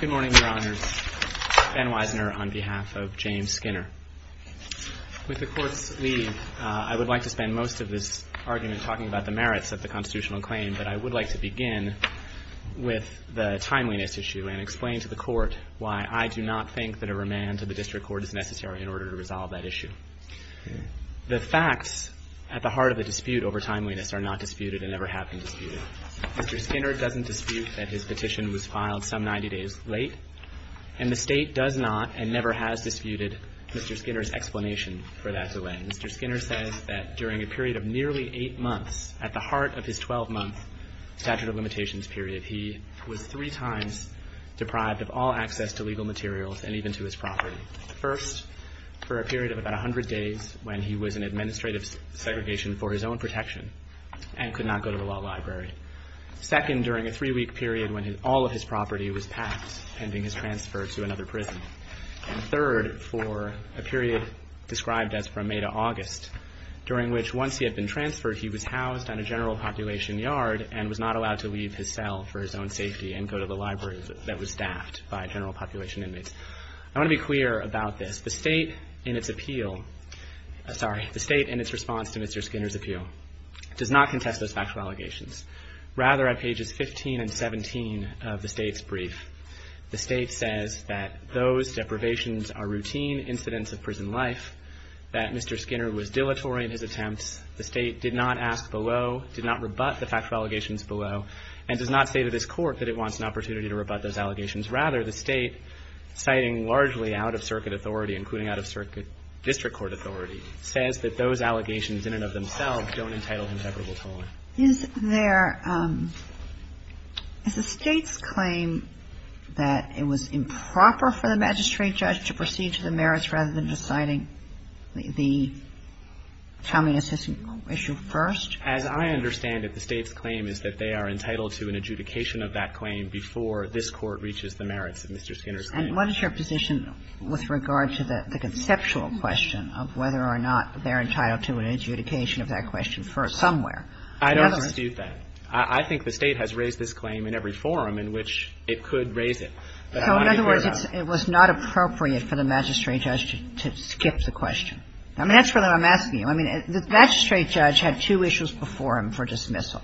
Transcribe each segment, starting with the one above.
Good morning, Your Honors. Ben Wisner on behalf of James Skinner. With the Court's leave, I would like to spend most of this argument talking about the merits of the constitutional claim, but I would like to begin with the timeliness issue and explain to the Court why I do not think that a remand to the District Court is necessary in order to resolve that issue. The facts at the heart of the dispute over timeliness are not disputed and never have been disputed. Mr. Skinner doesn't dispute that his petition was filed some 90 days late, and the State does not and never has disputed Mr. Skinner's explanation for that delay. Mr. Skinner says that during a period of nearly 8 months, at the heart of his 12-month statute of limitations period, he was three times deprived of all access to legal materials and even to his property. First, for a period of about 100 days when he was in administrative segregation for his own protection and could not go to the law library. Second, during a three-week period when all of his property was packed pending his transfer to another prison. And third, for a period described as from May to August, during which once he had been transferred, he was housed on a general population yard and was not allowed to leave his cell for his own safety and go to the library that was staffed by general population inmates. I want to be clear about this. The State in its appeal, sorry, the State in its response to Mr. Skinner's appeal, does not contest those factual allegations. Rather, at pages 15 and 17 of the State's brief, the State says that those deprivations are routine incidents of prison life, that Mr. Skinner was dilatory in his attempts. The State did not ask below, did not rebut the factual allegations below, and does not say to this Court that it wants an opportunity to rebut those allegations. Rather, the State, citing largely out-of-circuit authority, including out-of-circuit district court authority, says that those allegations in and of themselves don't entitle him to equitable tolerance. Is there – is the State's claim that it was improper for the magistrate judge to proceed to the merits rather than deciding the communist issue first? As I understand it, the State's claim is that they are entitled to an adjudication of that claim before this Court reaches the merits of Mr. Skinner's claim. What is your position with regard to the conceptual question of whether or not they're entitled to an adjudication of that question first somewhere? I don't dispute that. I think the State has raised this claim in every forum in which it could raise it. So in other words, it's – it was not appropriate for the magistrate judge to skip the question? I mean, that's really what I'm asking you. I mean, the magistrate judge had two issues before him for dismissal.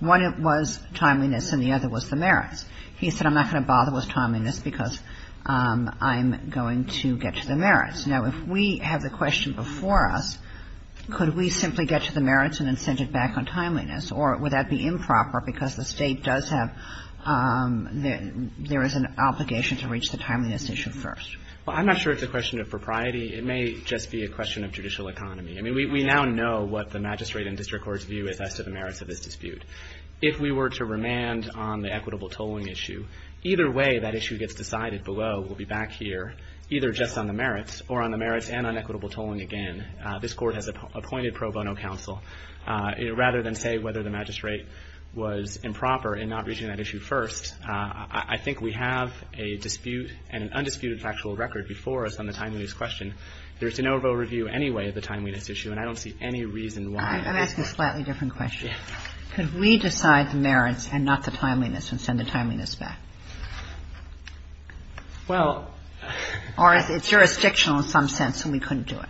One was timeliness, and the other was the merits. He said, I'm not going to bother with timeliness because I'm going to get to the merits. Now, if we have the question before us, could we simply get to the merits and then send it back on timeliness? Or would that be improper because the State does have – there is an obligation to reach the timeliness issue first? Well, I'm not sure it's a question of propriety. It may just be a question of judicial economy. I mean, we now know what the magistrate and district court's view is as to the merits of this dispute. If we were to remand on the equitable tolling issue, either way that issue gets decided below, we'll be back here, either just on the merits or on the merits and on equitable tolling again. This Court has appointed pro bono counsel. Rather than say whether the magistrate was improper in not reaching that issue first, I think we have a dispute and an undisputed factual record before us on the timeliness question. There's an overview anyway of the timeliness issue, and I don't see any reason why I'm asking a slightly different question. Could we decide the merits and not the timeliness and send the timeliness back? Well – Or it's jurisdictional in some sense, and we couldn't do it.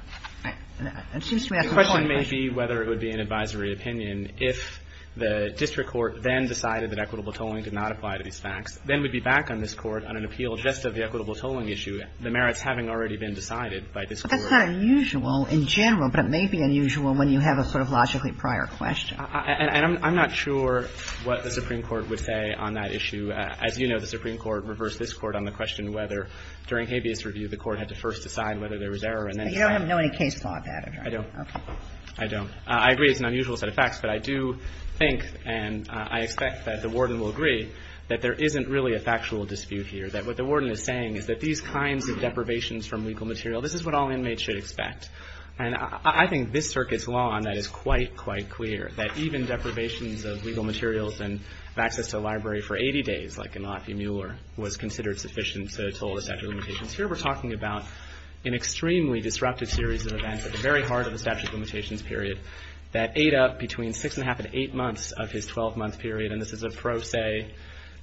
The question may be whether it would be an advisory opinion if the district court then decided that equitable tolling did not apply to these facts, then we'd be back on this Court on an appeal just of the equitable tolling issue, the merits having already been decided by this Court. So it's not unusual in general, but it may be unusual when you have a sort of logically prior question. And I'm not sure what the Supreme Court would say on that issue. As you know, the Supreme Court reversed this Court on the question whether during habeas review the Court had to first decide whether there was error and then decide. But you don't have any case law about it, right? I don't. Okay. I don't. I agree it's an unusual set of facts, but I do think and I expect that the Warden will agree that there isn't really a factual dispute here, that what the Warden is saying is that these kinds of deprivations from legal material, this is what all inmates should expect. And I think this Circuit's law on that is quite, quite clear, that even deprivations of legal materials and access to a library for 80 days, like in Lafayette-Mueller, was considered sufficient to toll the statute of limitations. Here we're talking about an extremely disruptive series of events at the very heart of the statute of limitations period that ate up between six and a half and eight months of his 12-month period. And this is a pro se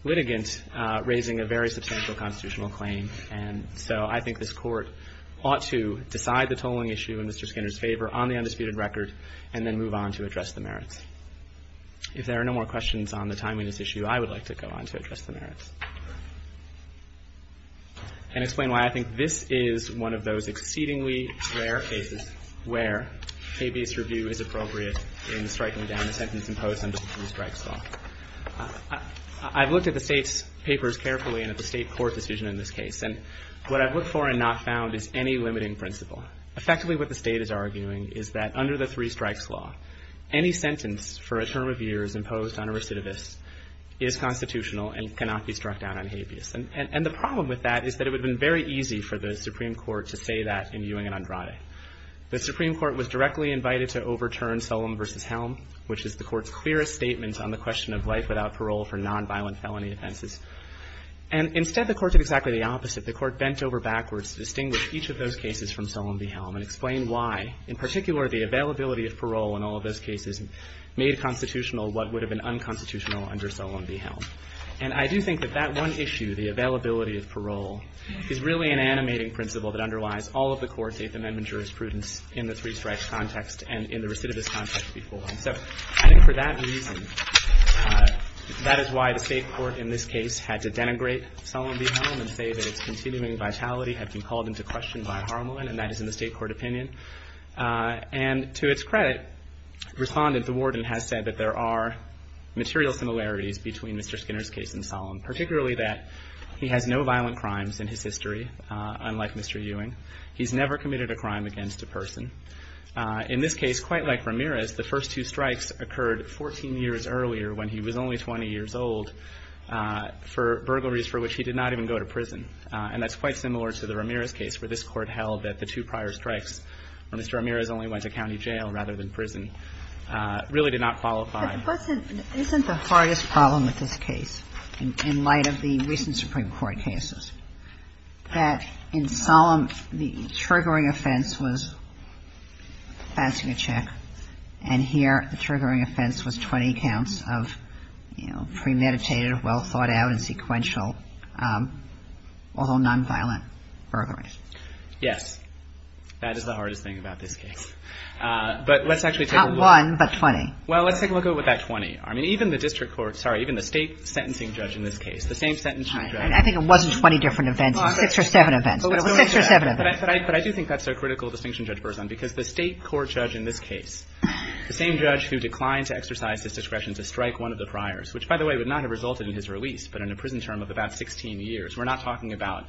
litigant raising a very substantial constitutional claim. And so I think this Court ought to decide the tolling issue in Mr. Skinner's favor on the undisputed record and then move on to address the merits. If there are no more questions on the timeliness issue, I would like to go on to address the merits and explain why I think this is one of those exceedingly rare cases where KBS review is appropriate in striking down a sentence imposed under the two-strikes law. I've looked at the State's papers carefully and at the State court decision in this case, and what I've looked for and not found is any limiting principle. Effectively, what the State is arguing is that under the three-strikes law, any sentence for a term of years imposed on a recidivist is constitutional and cannot be struck down on habeas. And the problem with that is that it would have been very easy for the Supreme Court to say that in Ewing and Andrade. The Supreme Court was directly invited to overturn Solem v. Helm, which is the Court's clearest statement on the question of life without parole for nonviolent felony offenses. And instead, the Court did exactly the opposite. The Court bent over backwards to distinguish each of those cases from Solem v. Helm and explain why, in particular, the availability of parole in all of those cases made constitutional what would have been unconstitutional under Solem v. Helm. And I do think that that one issue, the availability of parole, is really an animating principle that underlies all of the Court's Eighth Amendment jurisprudence in the three-strikes context and in the recidivist context before. So I think for that reason, that is why the State Court in this case had to denigrate Solem v. Helm and say that its continuing vitality had been called into question by Harmelin, and that is in the State Court opinion. And to its credit, Respondent DeWarden has said that there are material similarities between Mr. Skinner's case and Solem, particularly that he has no violent crimes in his history, unlike Mr. Ewing. He's never committed a crime against a person. In this case, quite like Ramirez, the first two strikes occurred 14 years earlier when he was only 20 years old for burglaries for which he did not even go to prison. And that's quite similar to the Ramirez case, where this Court held that the two prior strikes, when Mr. Ramirez only went to county jail rather than prison, really did not qualify. But wasn't, isn't the hardest problem with this case, in light of the recent Supreme Court cases, that in Solem, the triggering offense was fencing a check, and here, the triggering offense was 20 counts of, you know, premeditated, well-thought-out and sequential, although nonviolent, burglaries? Yes. That is the hardest thing about this case. But let's actually take a look at it. Not one, but 20. Well, let's take a look at it with that 20. I mean, even the District Court, sorry, even the State sentencing judge in this case, the same sentencing judge. I think it wasn't 20 different events. It was six or seven events. It was six or seven events. But I do think that's a critical distinction, Judge Berzon, because the State court judge in this case, the same judge who declined to exercise his discretion to strike one of the priors, which, by the way, would not have resulted in his release, but in a prison term of about 16 years. We're not talking about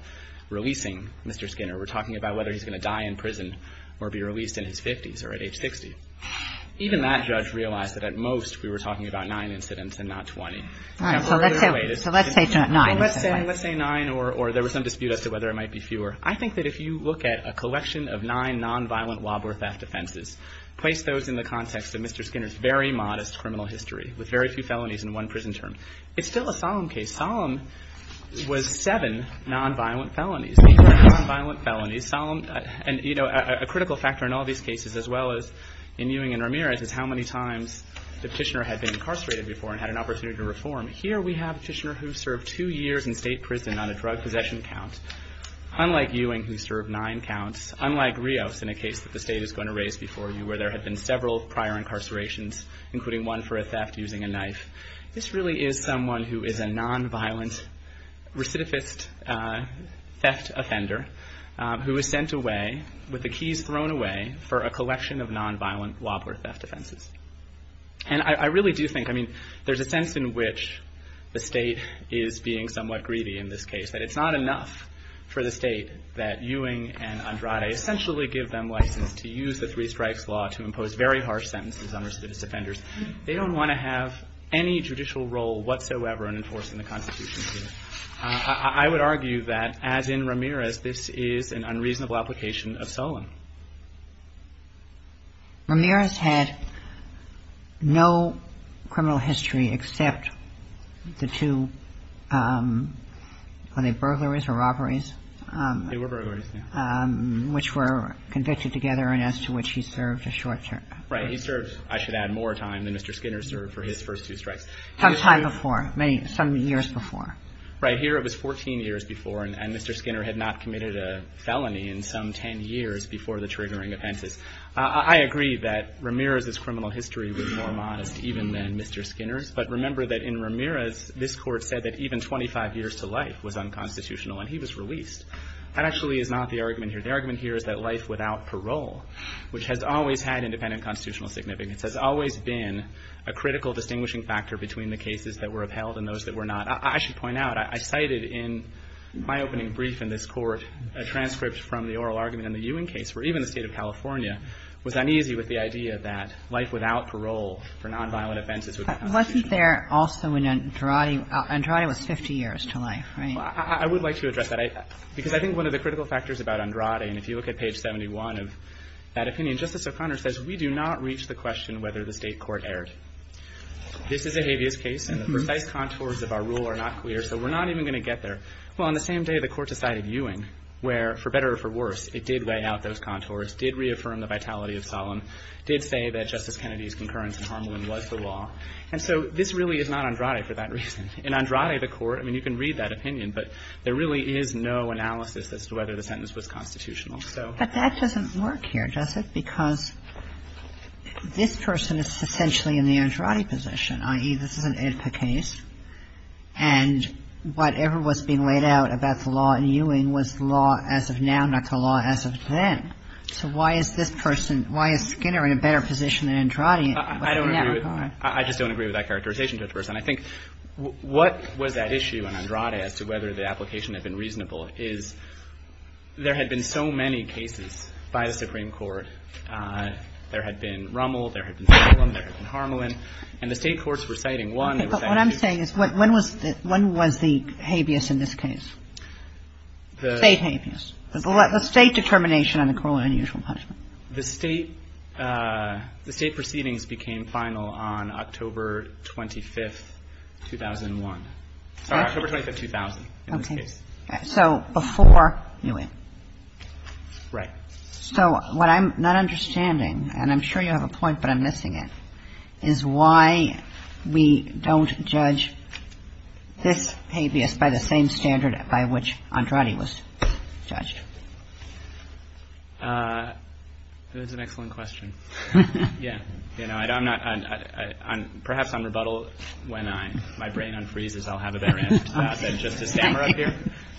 releasing Mr. Skinner. We're talking about whether he's going to die in prison or be released in his 50s or at age 60. Even that judge realized that, at most, we were talking about nine incidents and not 20. All right. So let's say, so let's say nine. Let's say, let's say nine or there was some dispute as to whether it might be fewer. I think that if you look at a collection of nine nonviolent rob or theft offenses, place those in the context of Mr. Skinner's very modest criminal history with very few felonies and one prison term, it's still a solemn case. Solemn was seven nonviolent felonies. Seven nonviolent felonies. Solemn, and, you know, a critical factor in all these cases, as well as in Ewing and Ramirez, is how many times the Petitioner had been incarcerated before and had an opportunity to reform. Here, we have a Petitioner who served two years in state prison on a drug possession count, unlike Ewing, who served nine counts, unlike Rios in a case that the state is going to raise before you, where there had been several prior incarcerations, including one for a theft using a knife. This really is someone who is a nonviolent recidivist theft offender who was sent away with the keys thrown away for a collection of nonviolent rob or theft offenses. And I really do think, I mean, there's a sense in which the state is being somewhat greedy in this case, that it's not enough for the state that Ewing and Andrade essentially give them license to use the three strikes law to impose very harsh sentences on recidivist offenders. They don't want to have any judicial role whatsoever in enforcing the Constitution. I would argue that as in Ramirez, this is an unreasonable application of Solemn. Ramirez had no criminal history except the two, were they burglaries or robberies? They were burglaries, yeah. Which were convicted together and as to which he served a short term. Right. He served, I should add, more time than Mr. Skinner served for his first two strikes. Some time before, some years before. Right. Here, it was 14 years before, and Mr. Skinner had not committed a felony in some 10 years before the triggering offenses. I agree that Ramirez's criminal history was more modest even than Mr. Skinner's. But remember that in Ramirez, this court said that even 25 years to life was unconstitutional and he was released. That actually is not the argument here. The argument here is that life without parole, which has always had independent constitutional significance, has always been a critical distinguishing factor between the cases that were upheld and those that were not. I should point out, I cited in my opening brief in this court, a transcript from the oral argument in the Ewing case, where even the State of California was uneasy with the idea that life without parole for nonviolent offenses would be unconstitutional. But wasn't there also in Andrade, Andrade was 50 years to life, right? Well, I would like to address that, because I think one of the critical factors about Andrade, and if you look at page 71 of that opinion, Justice O'Connor says, we do not reach the question whether the State court erred. This is a habeas case and the precise contours of our rule are not clear, so we're not even going to get there. Well, on the same day, the Court decided Ewing, where, for better or for worse, it did lay out those contours, did reaffirm the vitality of solemn, did say that Justice Kennedy's concurrence in Harmelin was the law. And so this really is not Andrade for that reason. In Andrade, the Court, I mean, you can read that opinion, but there really is no analysis as to whether the sentence was constitutional, so. But that doesn't work here, does it? Because this person is essentially in the Andrade position, i.e., this is an IHPA case, and whatever was being laid out about the law in Ewing was the law as of now, not the law as of then. So why is this person, why is Skinner in a better position than Andrade? I don't agree with that. I just don't agree with that characterization, Judge Burson. I think what was that issue in Andrade as to whether the application had been reasonable is there had been so many cases by the Supreme Court. There had been Rummel, there had been Solemn, there had been Harmelin, and the State courts were citing one. But what I'm saying is when was the habeas in this case, State habeas, the State determination on the corollary and unusual punishment? The State proceedings became final on October 25th, 2001. Sorry, October 25th, 2000, in this case. So before Ewing. Right. So what I'm not understanding, and I'm sure you have a point, but I'm missing it, is why we don't judge this habeas by the same standard by which Andrade was judged. That's an excellent question. Yeah. You know, I'm not, perhaps I'm rebuttal when my brain unfreezes, I'll have a better answer to that than just to stammer up here.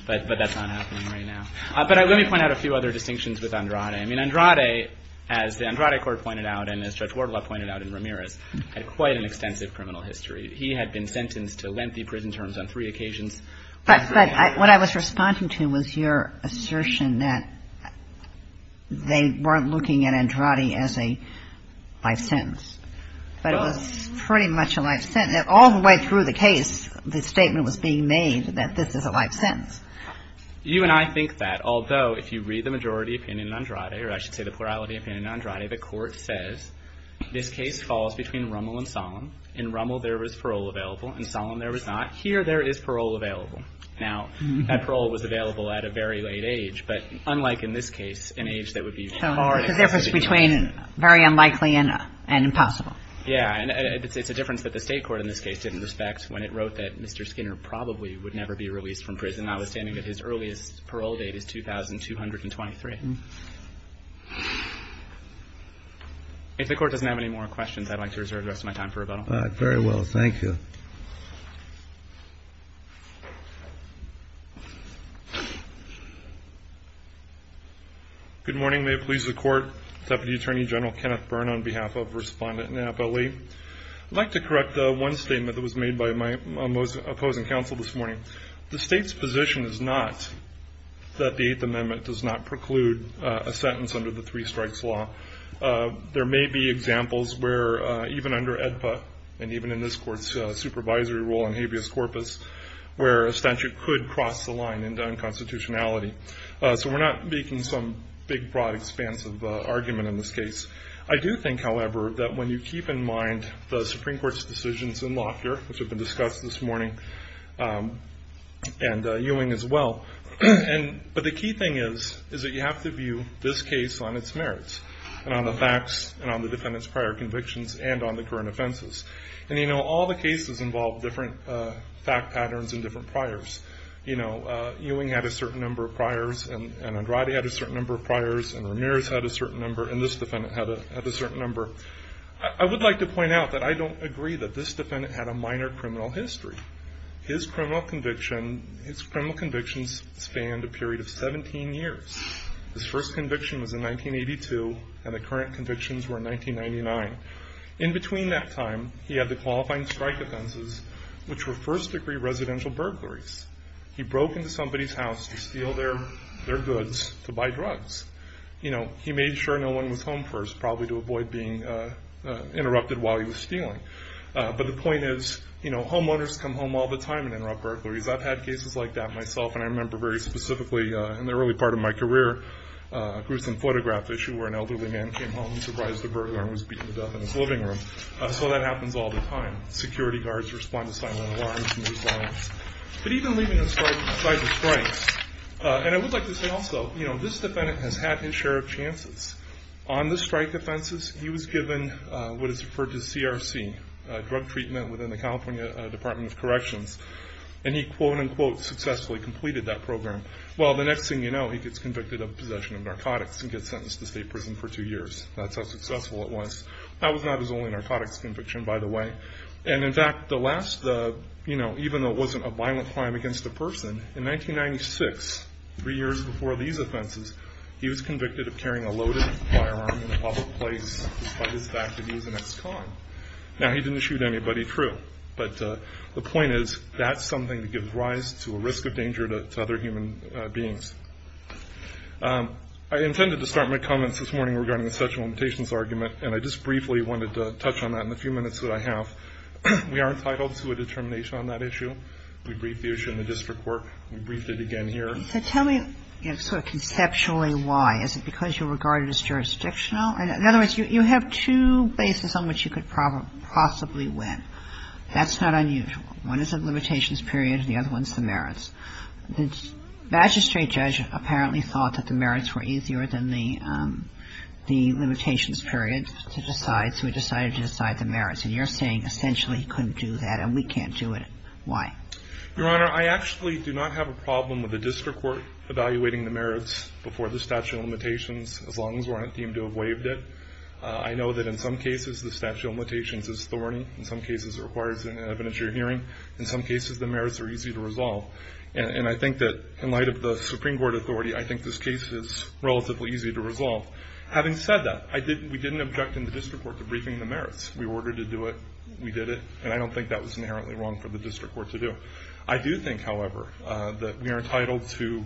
But that's not happening right now. But let me point out a few other distinctions with Andrade. I mean, Andrade, as the Andrade court pointed out, and as Judge Wardlaw pointed out in Ramirez, had quite an extensive criminal history. He had been sentenced to lengthy prison terms on three occasions. But what I was responding to was your assertion that they weren't looking at Andrade as a life sentence. But it was pretty much a life sentence. All the way through the case, the statement was being made that this is a life sentence. You and I think that. Although, if you read the majority opinion in Andrade, or I should say the plurality opinion in Andrade, the court says this case falls between Rummel and Solemn. In Rummel, there was parole available. In Solemn, there was not. Here, there is parole available. Now, that parole was available at a very late age, but unlike in this case, an age that would be far later. The difference between very unlikely and impossible. Yeah. And it's a difference that the state court in this case didn't respect when it wrote that Mr. Skinner probably would never be released from prison. Notwithstanding that his earliest parole date is 2223. If the court doesn't have any more questions, I'd like to reserve the rest of my time for rebuttal. All right. Very well. Thank you. Good morning. May it please the court. Deputy Attorney General Kenneth Byrne on behalf of Respondent Napoli. I'd like to correct one statement that was made by my opposing counsel this morning. The state's position is not that the Eighth Amendment does not preclude a sentence under the Three Strikes Law. There may be examples where, even under AEDPA, and even in this court's supervisory role in habeas corpus, where a statute could cross the line into unconstitutionality. So, we're not making some big, broad, expansive argument in this case. I do think, however, that when you keep in mind the Supreme Court's decisions in Lockyer, which have been discussed this morning, and Ewing as well, but the key thing is that you have to view this case on its merits, and on the facts, and on the defendant's prior convictions, and on the current offenses. All the cases involve different fact patterns and different priors. Ewing had a certain number of priors, and Andrade had a certain number of priors, and Ramirez had a certain number, and this defendant had a certain number. I would like to point out that I don't agree that this defendant had a minor criminal history. His criminal conviction, his criminal convictions spanned a period of 17 years. His first conviction was in 1982, and the current convictions were in 1999. In between that time, he had the qualifying strike offenses, which were first-degree residential burglaries. He broke into somebody's house to steal their goods to buy drugs. He made sure no one was home first, probably to avoid being interrupted while he was stealing. But the point is, homeowners come home all the time and interrupt burglaries. I've had cases like that myself, and I remember very specifically in the early part of my career, a gruesome photograph issue where an elderly man came home, surprised a burglar, and was beaten to death in his living room. So that happens all the time. Security guards respond to silent alarms, and there's violence. But even leaving aside the strikes, and I would like to say also, this defendant has had his share of chances. On the strike offenses, he was given what is referred to as CRC, drug treatment within the California Department of Corrections, and he quote-unquote successfully completed that program. Well, the next thing you know, he gets convicted of possession of narcotics and gets sentenced to state prison for two years. That's how successful it was. That was not his only narcotics conviction, by the way. And in fact, even though it wasn't a violent crime against a person, in 1996, three years before these offenses, he was convicted of carrying a loaded firearm in a public place despite his fact that he was an ex-con. Now he didn't shoot anybody, true, but the point is, that's something that gives rise to a risk of danger to other human beings. I intended to start my comments this morning regarding the sexual limitations argument, and I just briefly wanted to touch on that in the few minutes that I have. We are entitled to a determination on that issue. We briefed the issue in the district court, and we briefed it again here. So tell me sort of conceptually why. Is it because you regard it as jurisdictional? In other words, you have two bases on which you could possibly win. That's not unusual. One is a limitations period, and the other one's the merits. The magistrate judge apparently thought that the merits were easier than the limitations period to decide, so he decided to decide the merits. And you're saying essentially he couldn't do that, and we can't do it. Why? Your Honor, I actually do not have a problem with the district court evaluating the merits before the statute of limitations, as long as we're not deemed to have waived it. I know that in some cases, the statute of limitations is thorny. In some cases, it requires an evidentiary hearing. In some cases, the merits are easy to resolve. And I think that, in light of the Supreme Court authority, I think this case is relatively easy to resolve. Having said that, we didn't object in the district court to briefing the merits. We ordered to do it, we did it, and I don't think that was inherently wrong for the district court to do. I do think, however, that we are entitled to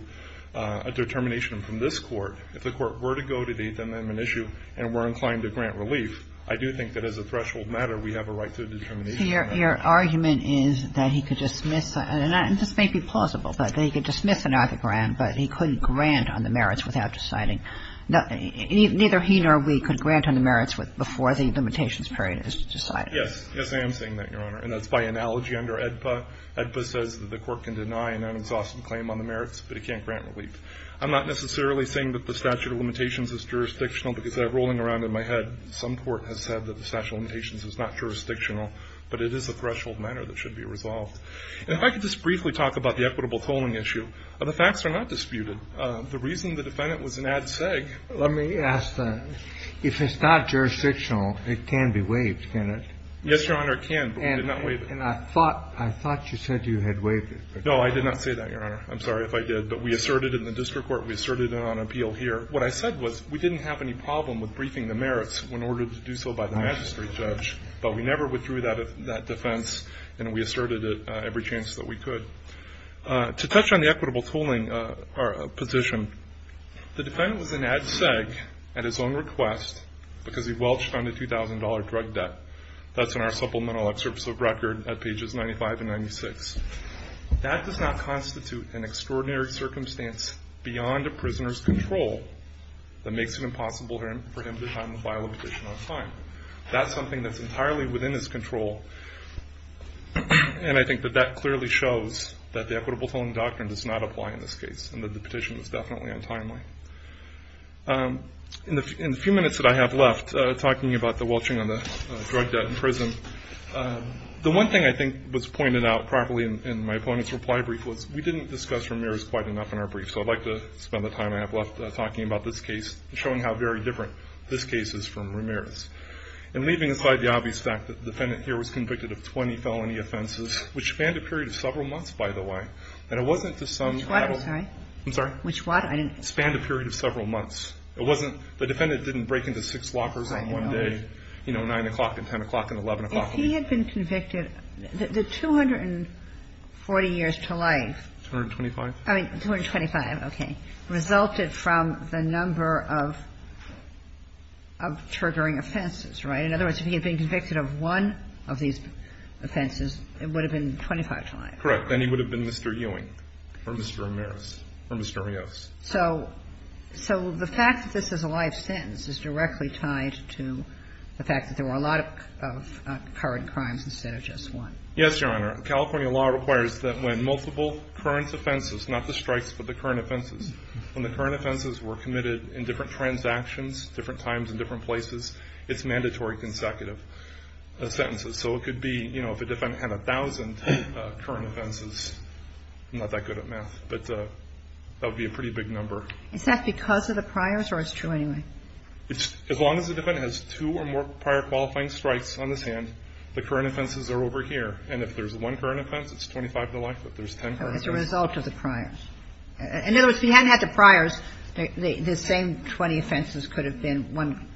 a determination from this Court. If the Court were to go to the eighth amendment issue and were inclined to grant relief, I do think that as a threshold matter, we have a right to a determination on that. Your argument is that he could dismiss, and this may be plausible, that he could dismiss another grant, but he couldn't grant on the merits without deciding. Neither he nor we could grant on the merits before the limitations period is decided. Yes. Yes, I am saying that, Your Honor. And that's by analogy under AEDPA. AEDPA says that the Court can deny an unexhausted claim on the merits, but it can't grant relief. I'm not necessarily saying that the statute of limitations is jurisdictional, because rolling around in my head, some court has said that the statute of limitations is not jurisdictional, but it is a threshold matter that should be resolved. And if I could just briefly talk about the equitable tolling issue. The facts are not disputed. The reason the defendant was an ad seg. Let me ask, if it's not jurisdictional, it can be waived, can it? Yes, Your Honor, it can. And I thought you said you had waived it. No, I did not say that, Your Honor. I'm sorry if I did. But we asserted in the district court, we asserted it on appeal here. What I said was, we didn't have any problem with briefing the merits in order to do so by the magistrate judge, but we never withdrew that defense, and we asserted it every chance that we could. To touch on the equitable tolling position, the defendant was an ad seg at his own request, because he welched on the $2,000 drug debt. That's in our supplemental excerpts of record at pages 95 and 96. That does not constitute an extraordinary circumstance beyond a prisoner's control that makes it impossible for him to file a petition on time. That's something that's entirely within his control, and I think that that clearly shows that the equitable tolling doctrine does not apply in this case, and that the petition was definitely untimely. In the few minutes that I have left talking about the welching on the drug debt in prison, the one thing I think was pointed out properly in my opponent's reply brief was, we didn't discuss Ramirez quite enough in our brief, so I'd like to spend the time I have left talking about this case, showing how very different this case is from Ramirez. And leaving aside the obvious fact that the defendant here was convicted of 20 felony offenses, which spanned a period of several months, by the way, and it wasn't to some... Which water, sorry? I'm sorry? Which water? Spanned a period of several months. It wasn't the defendant didn't break into six lockers on one day, you know, 9 o'clock and 10 o'clock and 11 o'clock. If he had been convicted, the 240 years to life... 225. I mean, 225, okay, resulted from the number of triggering offenses, right? In other words, if he had been convicted of one of these offenses, it would have been 25 to life. Correct. Then he would have been Mr. Ewing or Mr. Ramirez or Mr. Rios. So the fact that this is a live sentence is directly tied to the fact that there were a lot of current crimes instead of just one. Yes, Your Honor. California law requires that when multiple current offenses, not the strikes, but the current offenses, when the current offenses were committed in different transactions, different times and different places, it's mandatory consecutive sentences. So it could be, you know, if a defendant had 1,000 current offenses, I'm not that sure, but it could be a big number. Is that because of the priors or it's true anyway? As long as the defendant has two or more prior qualifying strikes on his hand, the current offenses are over here. And if there's one current offense, it's 25 to life. If there's 10 current offenses... As a result of the priors. In other words, if he hadn't had the priors, the same 20 offenses could have been one,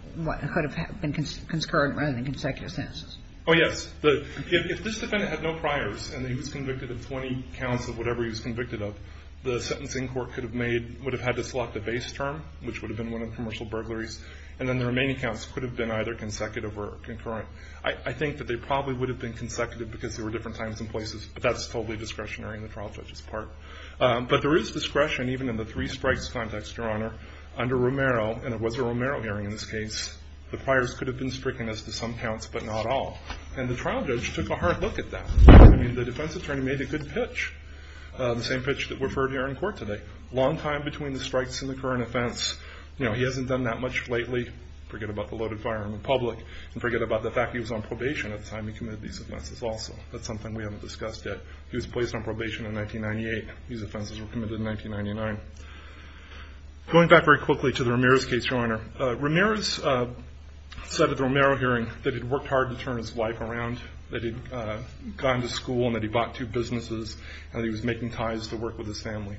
could have been concurrent rather than consecutive sentences. Oh, yes. If this defendant had no priors and he was convicted of 20 counts of whatever he was convicted of, he would have had to select a base term, which would have been one of commercial burglaries. And then the remaining counts could have been either consecutive or concurrent. I think that they probably would have been consecutive because there were different times and places, but that's totally discretionary in the trial judge's part. But there is discretion even in the three strikes context, Your Honor, under Romero, and it was a Romero hearing in this case. The priors could have been stricken as to some counts but not all. And the trial judge took a hard look at that. I mean, the defense attorney made a good pitch, the same pitch that we've heard here in court today. Long time between the strikes and the current offense, you know, he hasn't done that much lately, forget about the loaded firearm in public, and forget about the fact he was on probation at the time he committed these offenses also. That's something we haven't discussed yet. He was placed on probation in 1998. These offenses were committed in 1999. Going back very quickly to the Ramirez case, Your Honor, Ramirez said at the Romero hearing that he'd worked hard to turn his wife around, that he'd gone to school and that he bought two businesses, and that he was making ties to work with his family.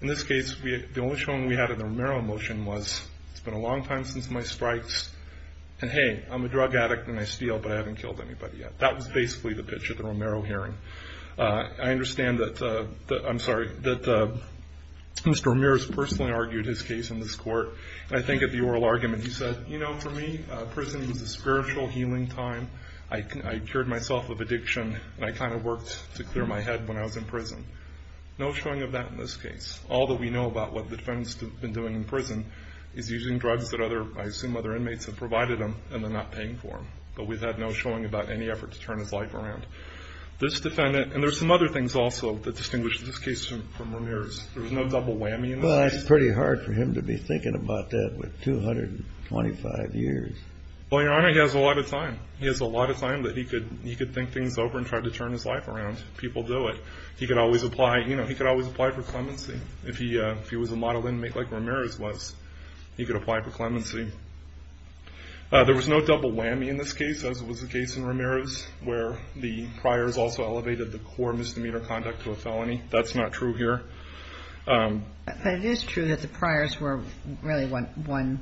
In this case, the only showing we had in the Romero motion was, it's been a long time since my strikes, and hey, I'm a drug addict and I steal, but I haven't killed anybody yet. That was basically the pitch of the Romero hearing. I understand that, I'm sorry, that Mr. Ramirez personally argued his case in this court, and I think at the oral argument he said, you know, for me, prison was a spiritual healing time. I cured myself of addiction, and I kind of worked to clear my head when I was in prison. No showing of that in this case. All that we know about what the defendant's been doing in prison is using drugs that other, I assume other inmates have provided them, and they're not paying for them. But we've had no showing about any effort to turn his life around. This defendant, and there's some other things also that distinguish this case from Ramirez. There's no double whammy in this. Well, it's pretty hard for him to be thinking about that with 225 years. Well, Your Honor, he has a lot of time. He has a lot of time that he could think things over and try to turn his life around. People do it. He could always apply, you know, he could always apply for clemency. If he was a model inmate like Ramirez was, he could apply for clemency. There was no double whammy in this case, as was the case in Ramirez, where the priors also elevated the core misdemeanor conduct to a felony. That's not true here. But it is true that the priors were really one,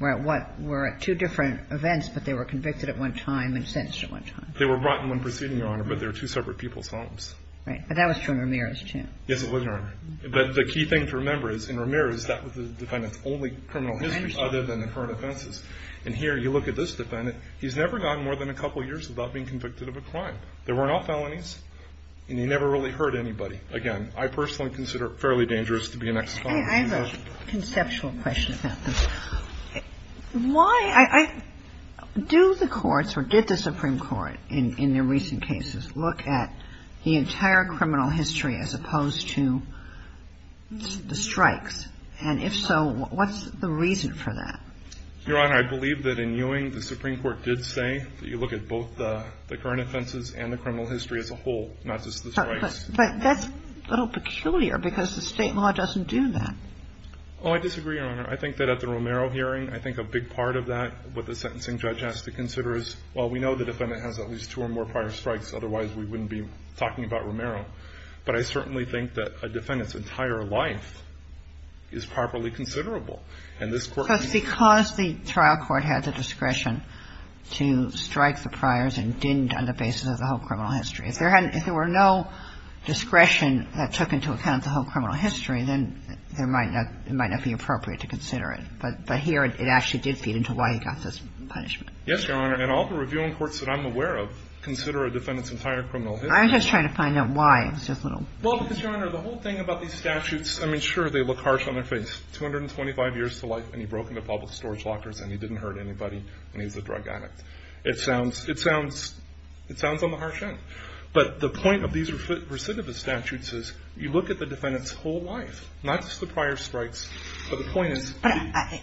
were at two different events, but they were convicted at one time and sentenced at one time. They were brought in one proceeding, Your Honor, but they were two separate people's homes. Right. But that was true in Ramirez, too. Yes, it was, Your Honor. But the key thing to remember is, in Ramirez, that was the defendant's only criminal history other than the current offenses. And here, you look at this defendant. He's never gotten more than a couple years without being convicted of a crime. There weren't all felonies, and he never really hurt anybody. Again, I personally consider it fairly dangerous to be an ex-convict. I have a conceptual question about this. Why? I, do the courts, or did the Supreme Court in their recent cases look at, the entire criminal history as opposed to the strikes? And if so, what's the reason for that? Your Honor, I believe that in Ewing, the Supreme Court did say that you look at both the, the current offenses and the criminal history as a whole, not just the strikes. But that's a little peculiar because the state law doesn't do that. Oh, I disagree, Your Honor. I think that at the Romero hearing, I think a big part of that, what the sentencing judge has to consider is, well, we know the defendant has at least two counts, otherwise we wouldn't be talking about Romero. But I certainly think that a defendant's entire life is properly considerable. And this court- Because the trial court had the discretion to strike the priors and didn't on the basis of the whole criminal history. If there had, if there were no discretion that took into account the whole criminal history, then there might not, it might not be appropriate to consider it. But, but here it, it actually did feed into why he got this punishment. Yes, Your Honor. And all the reviewing courts that I'm aware of consider a defendant's entire criminal history. I'm just trying to find out why. It's just a little- Well, because, Your Honor, the whole thing about these statutes, I mean, sure, they look harsh on their face. 225 years to life and he broke into public storage lockers and he didn't hurt anybody when he was a drug addict. It sounds, it sounds, it sounds on the harsh end. But the point of these recidivist statutes is you look at the defendant's whole life, not just the prior strikes. But the point is- But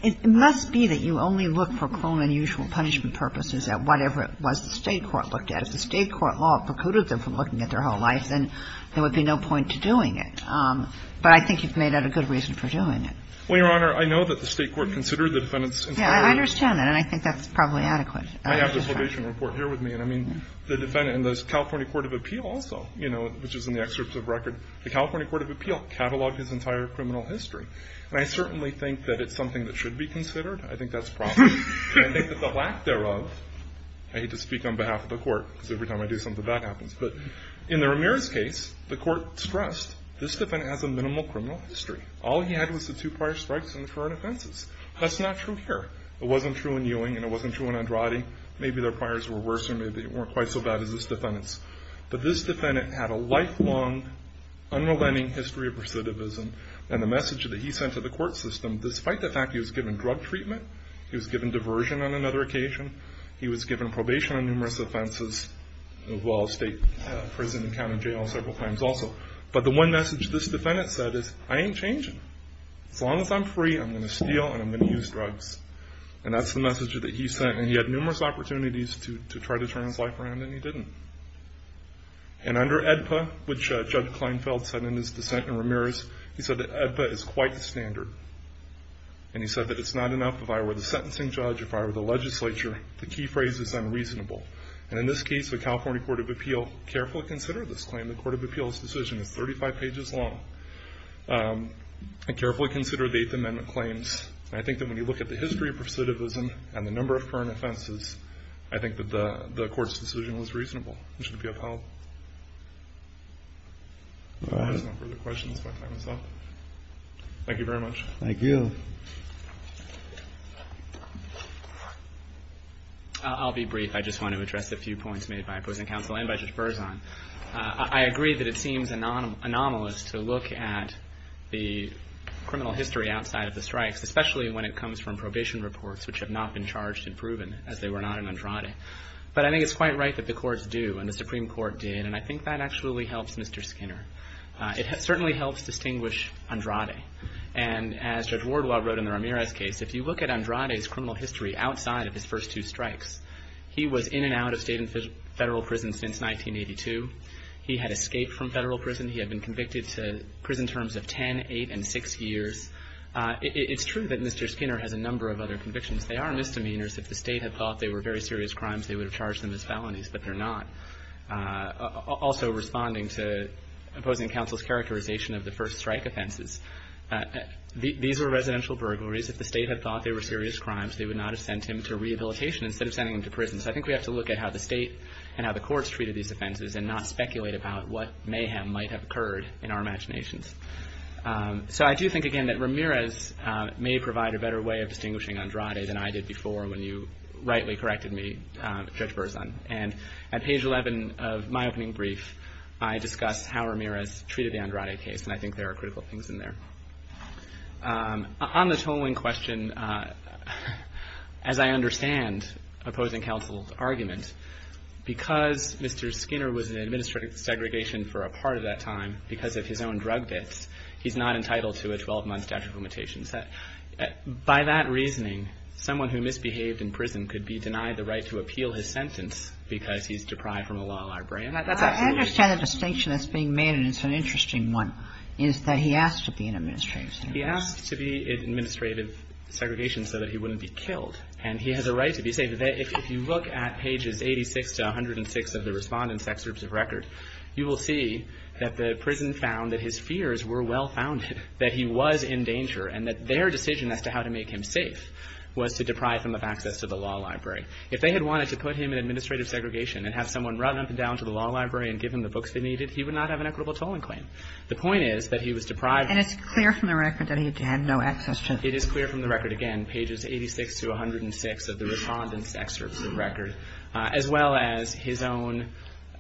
it must be that you only look for criminal unusual punishment purposes at whatever it was the State court looked at. If the State court law precluded them from looking at their whole life, then there would be no point to doing it. But I think you've made that a good reason for doing it. Well, Your Honor, I know that the State court considered the defendant's entire- Yeah, I understand that. And I think that's probably adequate. I have the probation report here with me. And I mean, the defendant in the California court of appeal also, you know, which is in the excerpts of record, the California court of appeal cataloged his entire criminal history. And I certainly think that it's something that should be considered. I think that's probably. And I think that the lack thereof, I hate to speak on behalf of the court, because every time I do something bad happens. But in the Ramirez case, the court stressed, this defendant has a minimal criminal history. All he had was the two prior strikes and the current offenses. That's not true here. It wasn't true in Ewing, and it wasn't true in Andrade. Maybe their priors were worse, or maybe they weren't quite so bad as this defendant's. But this defendant had a lifelong, unrelenting history of recidivism. And the message that he sent to the court system, despite the fact he was given drug treatment, he was given diversion on another occasion, he was given probation on numerous offenses, as well as state, prison, and county jail several times also. But the one message this defendant said is, I ain't changing. As long as I'm free, I'm going to steal, and I'm going to use drugs. And that's the message that he sent. And he had numerous opportunities to try to turn his life around, and he didn't. And under AEDPA, which Judge Kleinfeld said in his dissent in Ramirez, he said that AEDPA is quite the standard. And he said that it's not enough if I were the sentencing judge, if I were the legislature, the key phrase is unreasonable. And in this case, the California Court of Appeal carefully considered this claim. The Court of Appeal's decision is 35 pages long, and carefully considered the Eighth Amendment claims. I think that when you look at the history of recidivism, and the number of current offenses, I think that the court's decision was reasonable. Mr. DePio, if I have no further questions, if I may. Thank you very much. Thank you. I'll be brief. I just want to address a few points made by opposing counsel and by Judge Berzon. I agree that it seems anomalous to look at the criminal history outside of the strikes, especially when it comes from probation reports, which have not been charged and proven, as they were not in Andrade. But I think it's quite right that the courts do, and the Supreme Court did. And I think that actually helps Mr. Skinner. It certainly helps distinguish Andrade. And as Judge Wardwell wrote in the Ramirez case, if you look at Andrade's criminal history outside of his first two strikes, he was in and out of state and federal prison since 1982. He had escaped from federal prison. He had been convicted to prison terms of 10, 8, and 6 years. It's true that Mr. Skinner has a number of other convictions. They are misdemeanors. If the state had thought they were very serious crimes, they would have charged them as felonies, but they're not. Also responding to opposing counsel's characterization of the first strike offenses, these were residential burglaries. If the state had thought they were serious crimes, they would not have sent him to rehabilitation instead of sending him to prison. So I think we have to look at how the state and how the courts treated these offenses and not speculate about what mayhem might have occurred in our imaginations. So I do think, again, that Ramirez may provide a better way of distinguishing Andrade than I did before when you rightly corrected me, Judge Berzon. And at page 11 of my opening brief, I discuss how Ramirez treated the Andrade case, and I think there are critical things in there. On the tolling question, as I understand opposing counsel's argument, because Mr. Skinner was in administrative segregation for a part of that time because of his own drug bits, he's not entitled to a 12-month statute of limitations. By that reasoning, someone who misbehaved in prison could be denied the right to appeal his sentence because he's deprived from a law library. And that's absolutely true. I understand the distinction that's being made, and it's an interesting one, is that he asked to be in administrative segregation. He asked to be in administrative segregation so that he wouldn't be killed. And he has a right to be saved. If you look at pages 86 to 106 of the Respondent's Excerpts of Record, you will see that the prison found that his fears were well-founded, that he was in danger, and that their decision as to how to make him safe was to deprive him of access to the law library. If they had wanted to put him in administrative segregation and have someone run up and down to the law library and give him the books they needed, he would not have an equitable tolling claim. The point is that he was deprived. And it's clear from the record that he had no access to it. It is clear from the record, again, pages 86 to 106 of the Respondent's Excerpts of Record, as well as his own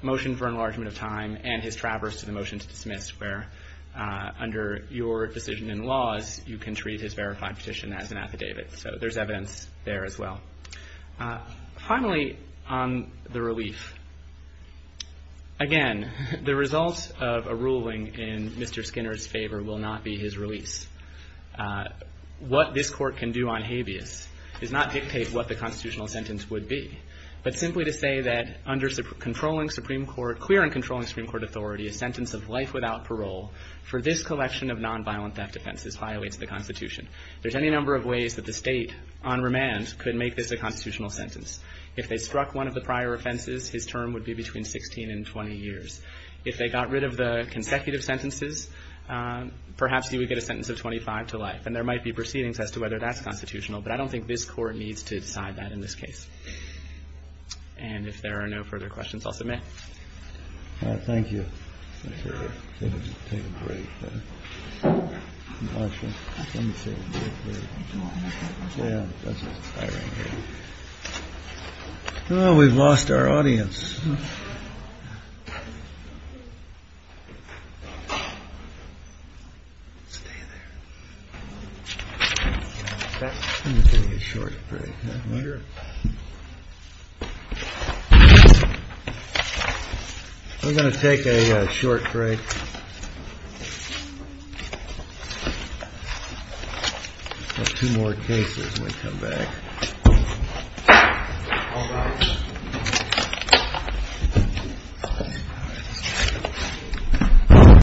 motion for enlargement of time and his traverse to the motion to dismiss, where under your decision in laws, you can treat his verified petition as an affidavit. So there's evidence there as well. Finally, on the relief. Again, the result of a ruling in Mr. Skinner's favor will not be his release. What this Court can do on habeas is not dictate what the constitutional sentence would be, but simply to say that under clear and controlling Supreme Court authority, a sentence of life without parole for this collection of nonviolent theft offenses violates the Constitution. There's any number of ways that the State, on remand, could make this a constitutional sentence. If they struck one of the prior offenses, his term would be between 16 and 20 years. If they got rid of the consecutive sentences, perhaps he would get a sentence of 25 to life. And there might be proceedings as to whether that's constitutional, but I don't think this Court needs to decide that in this case. And if there are no further questions, I'll submit. Thank you. Take a break. Well, we've lost our audience. We're going to take a short break. Two more cases. We'll come back.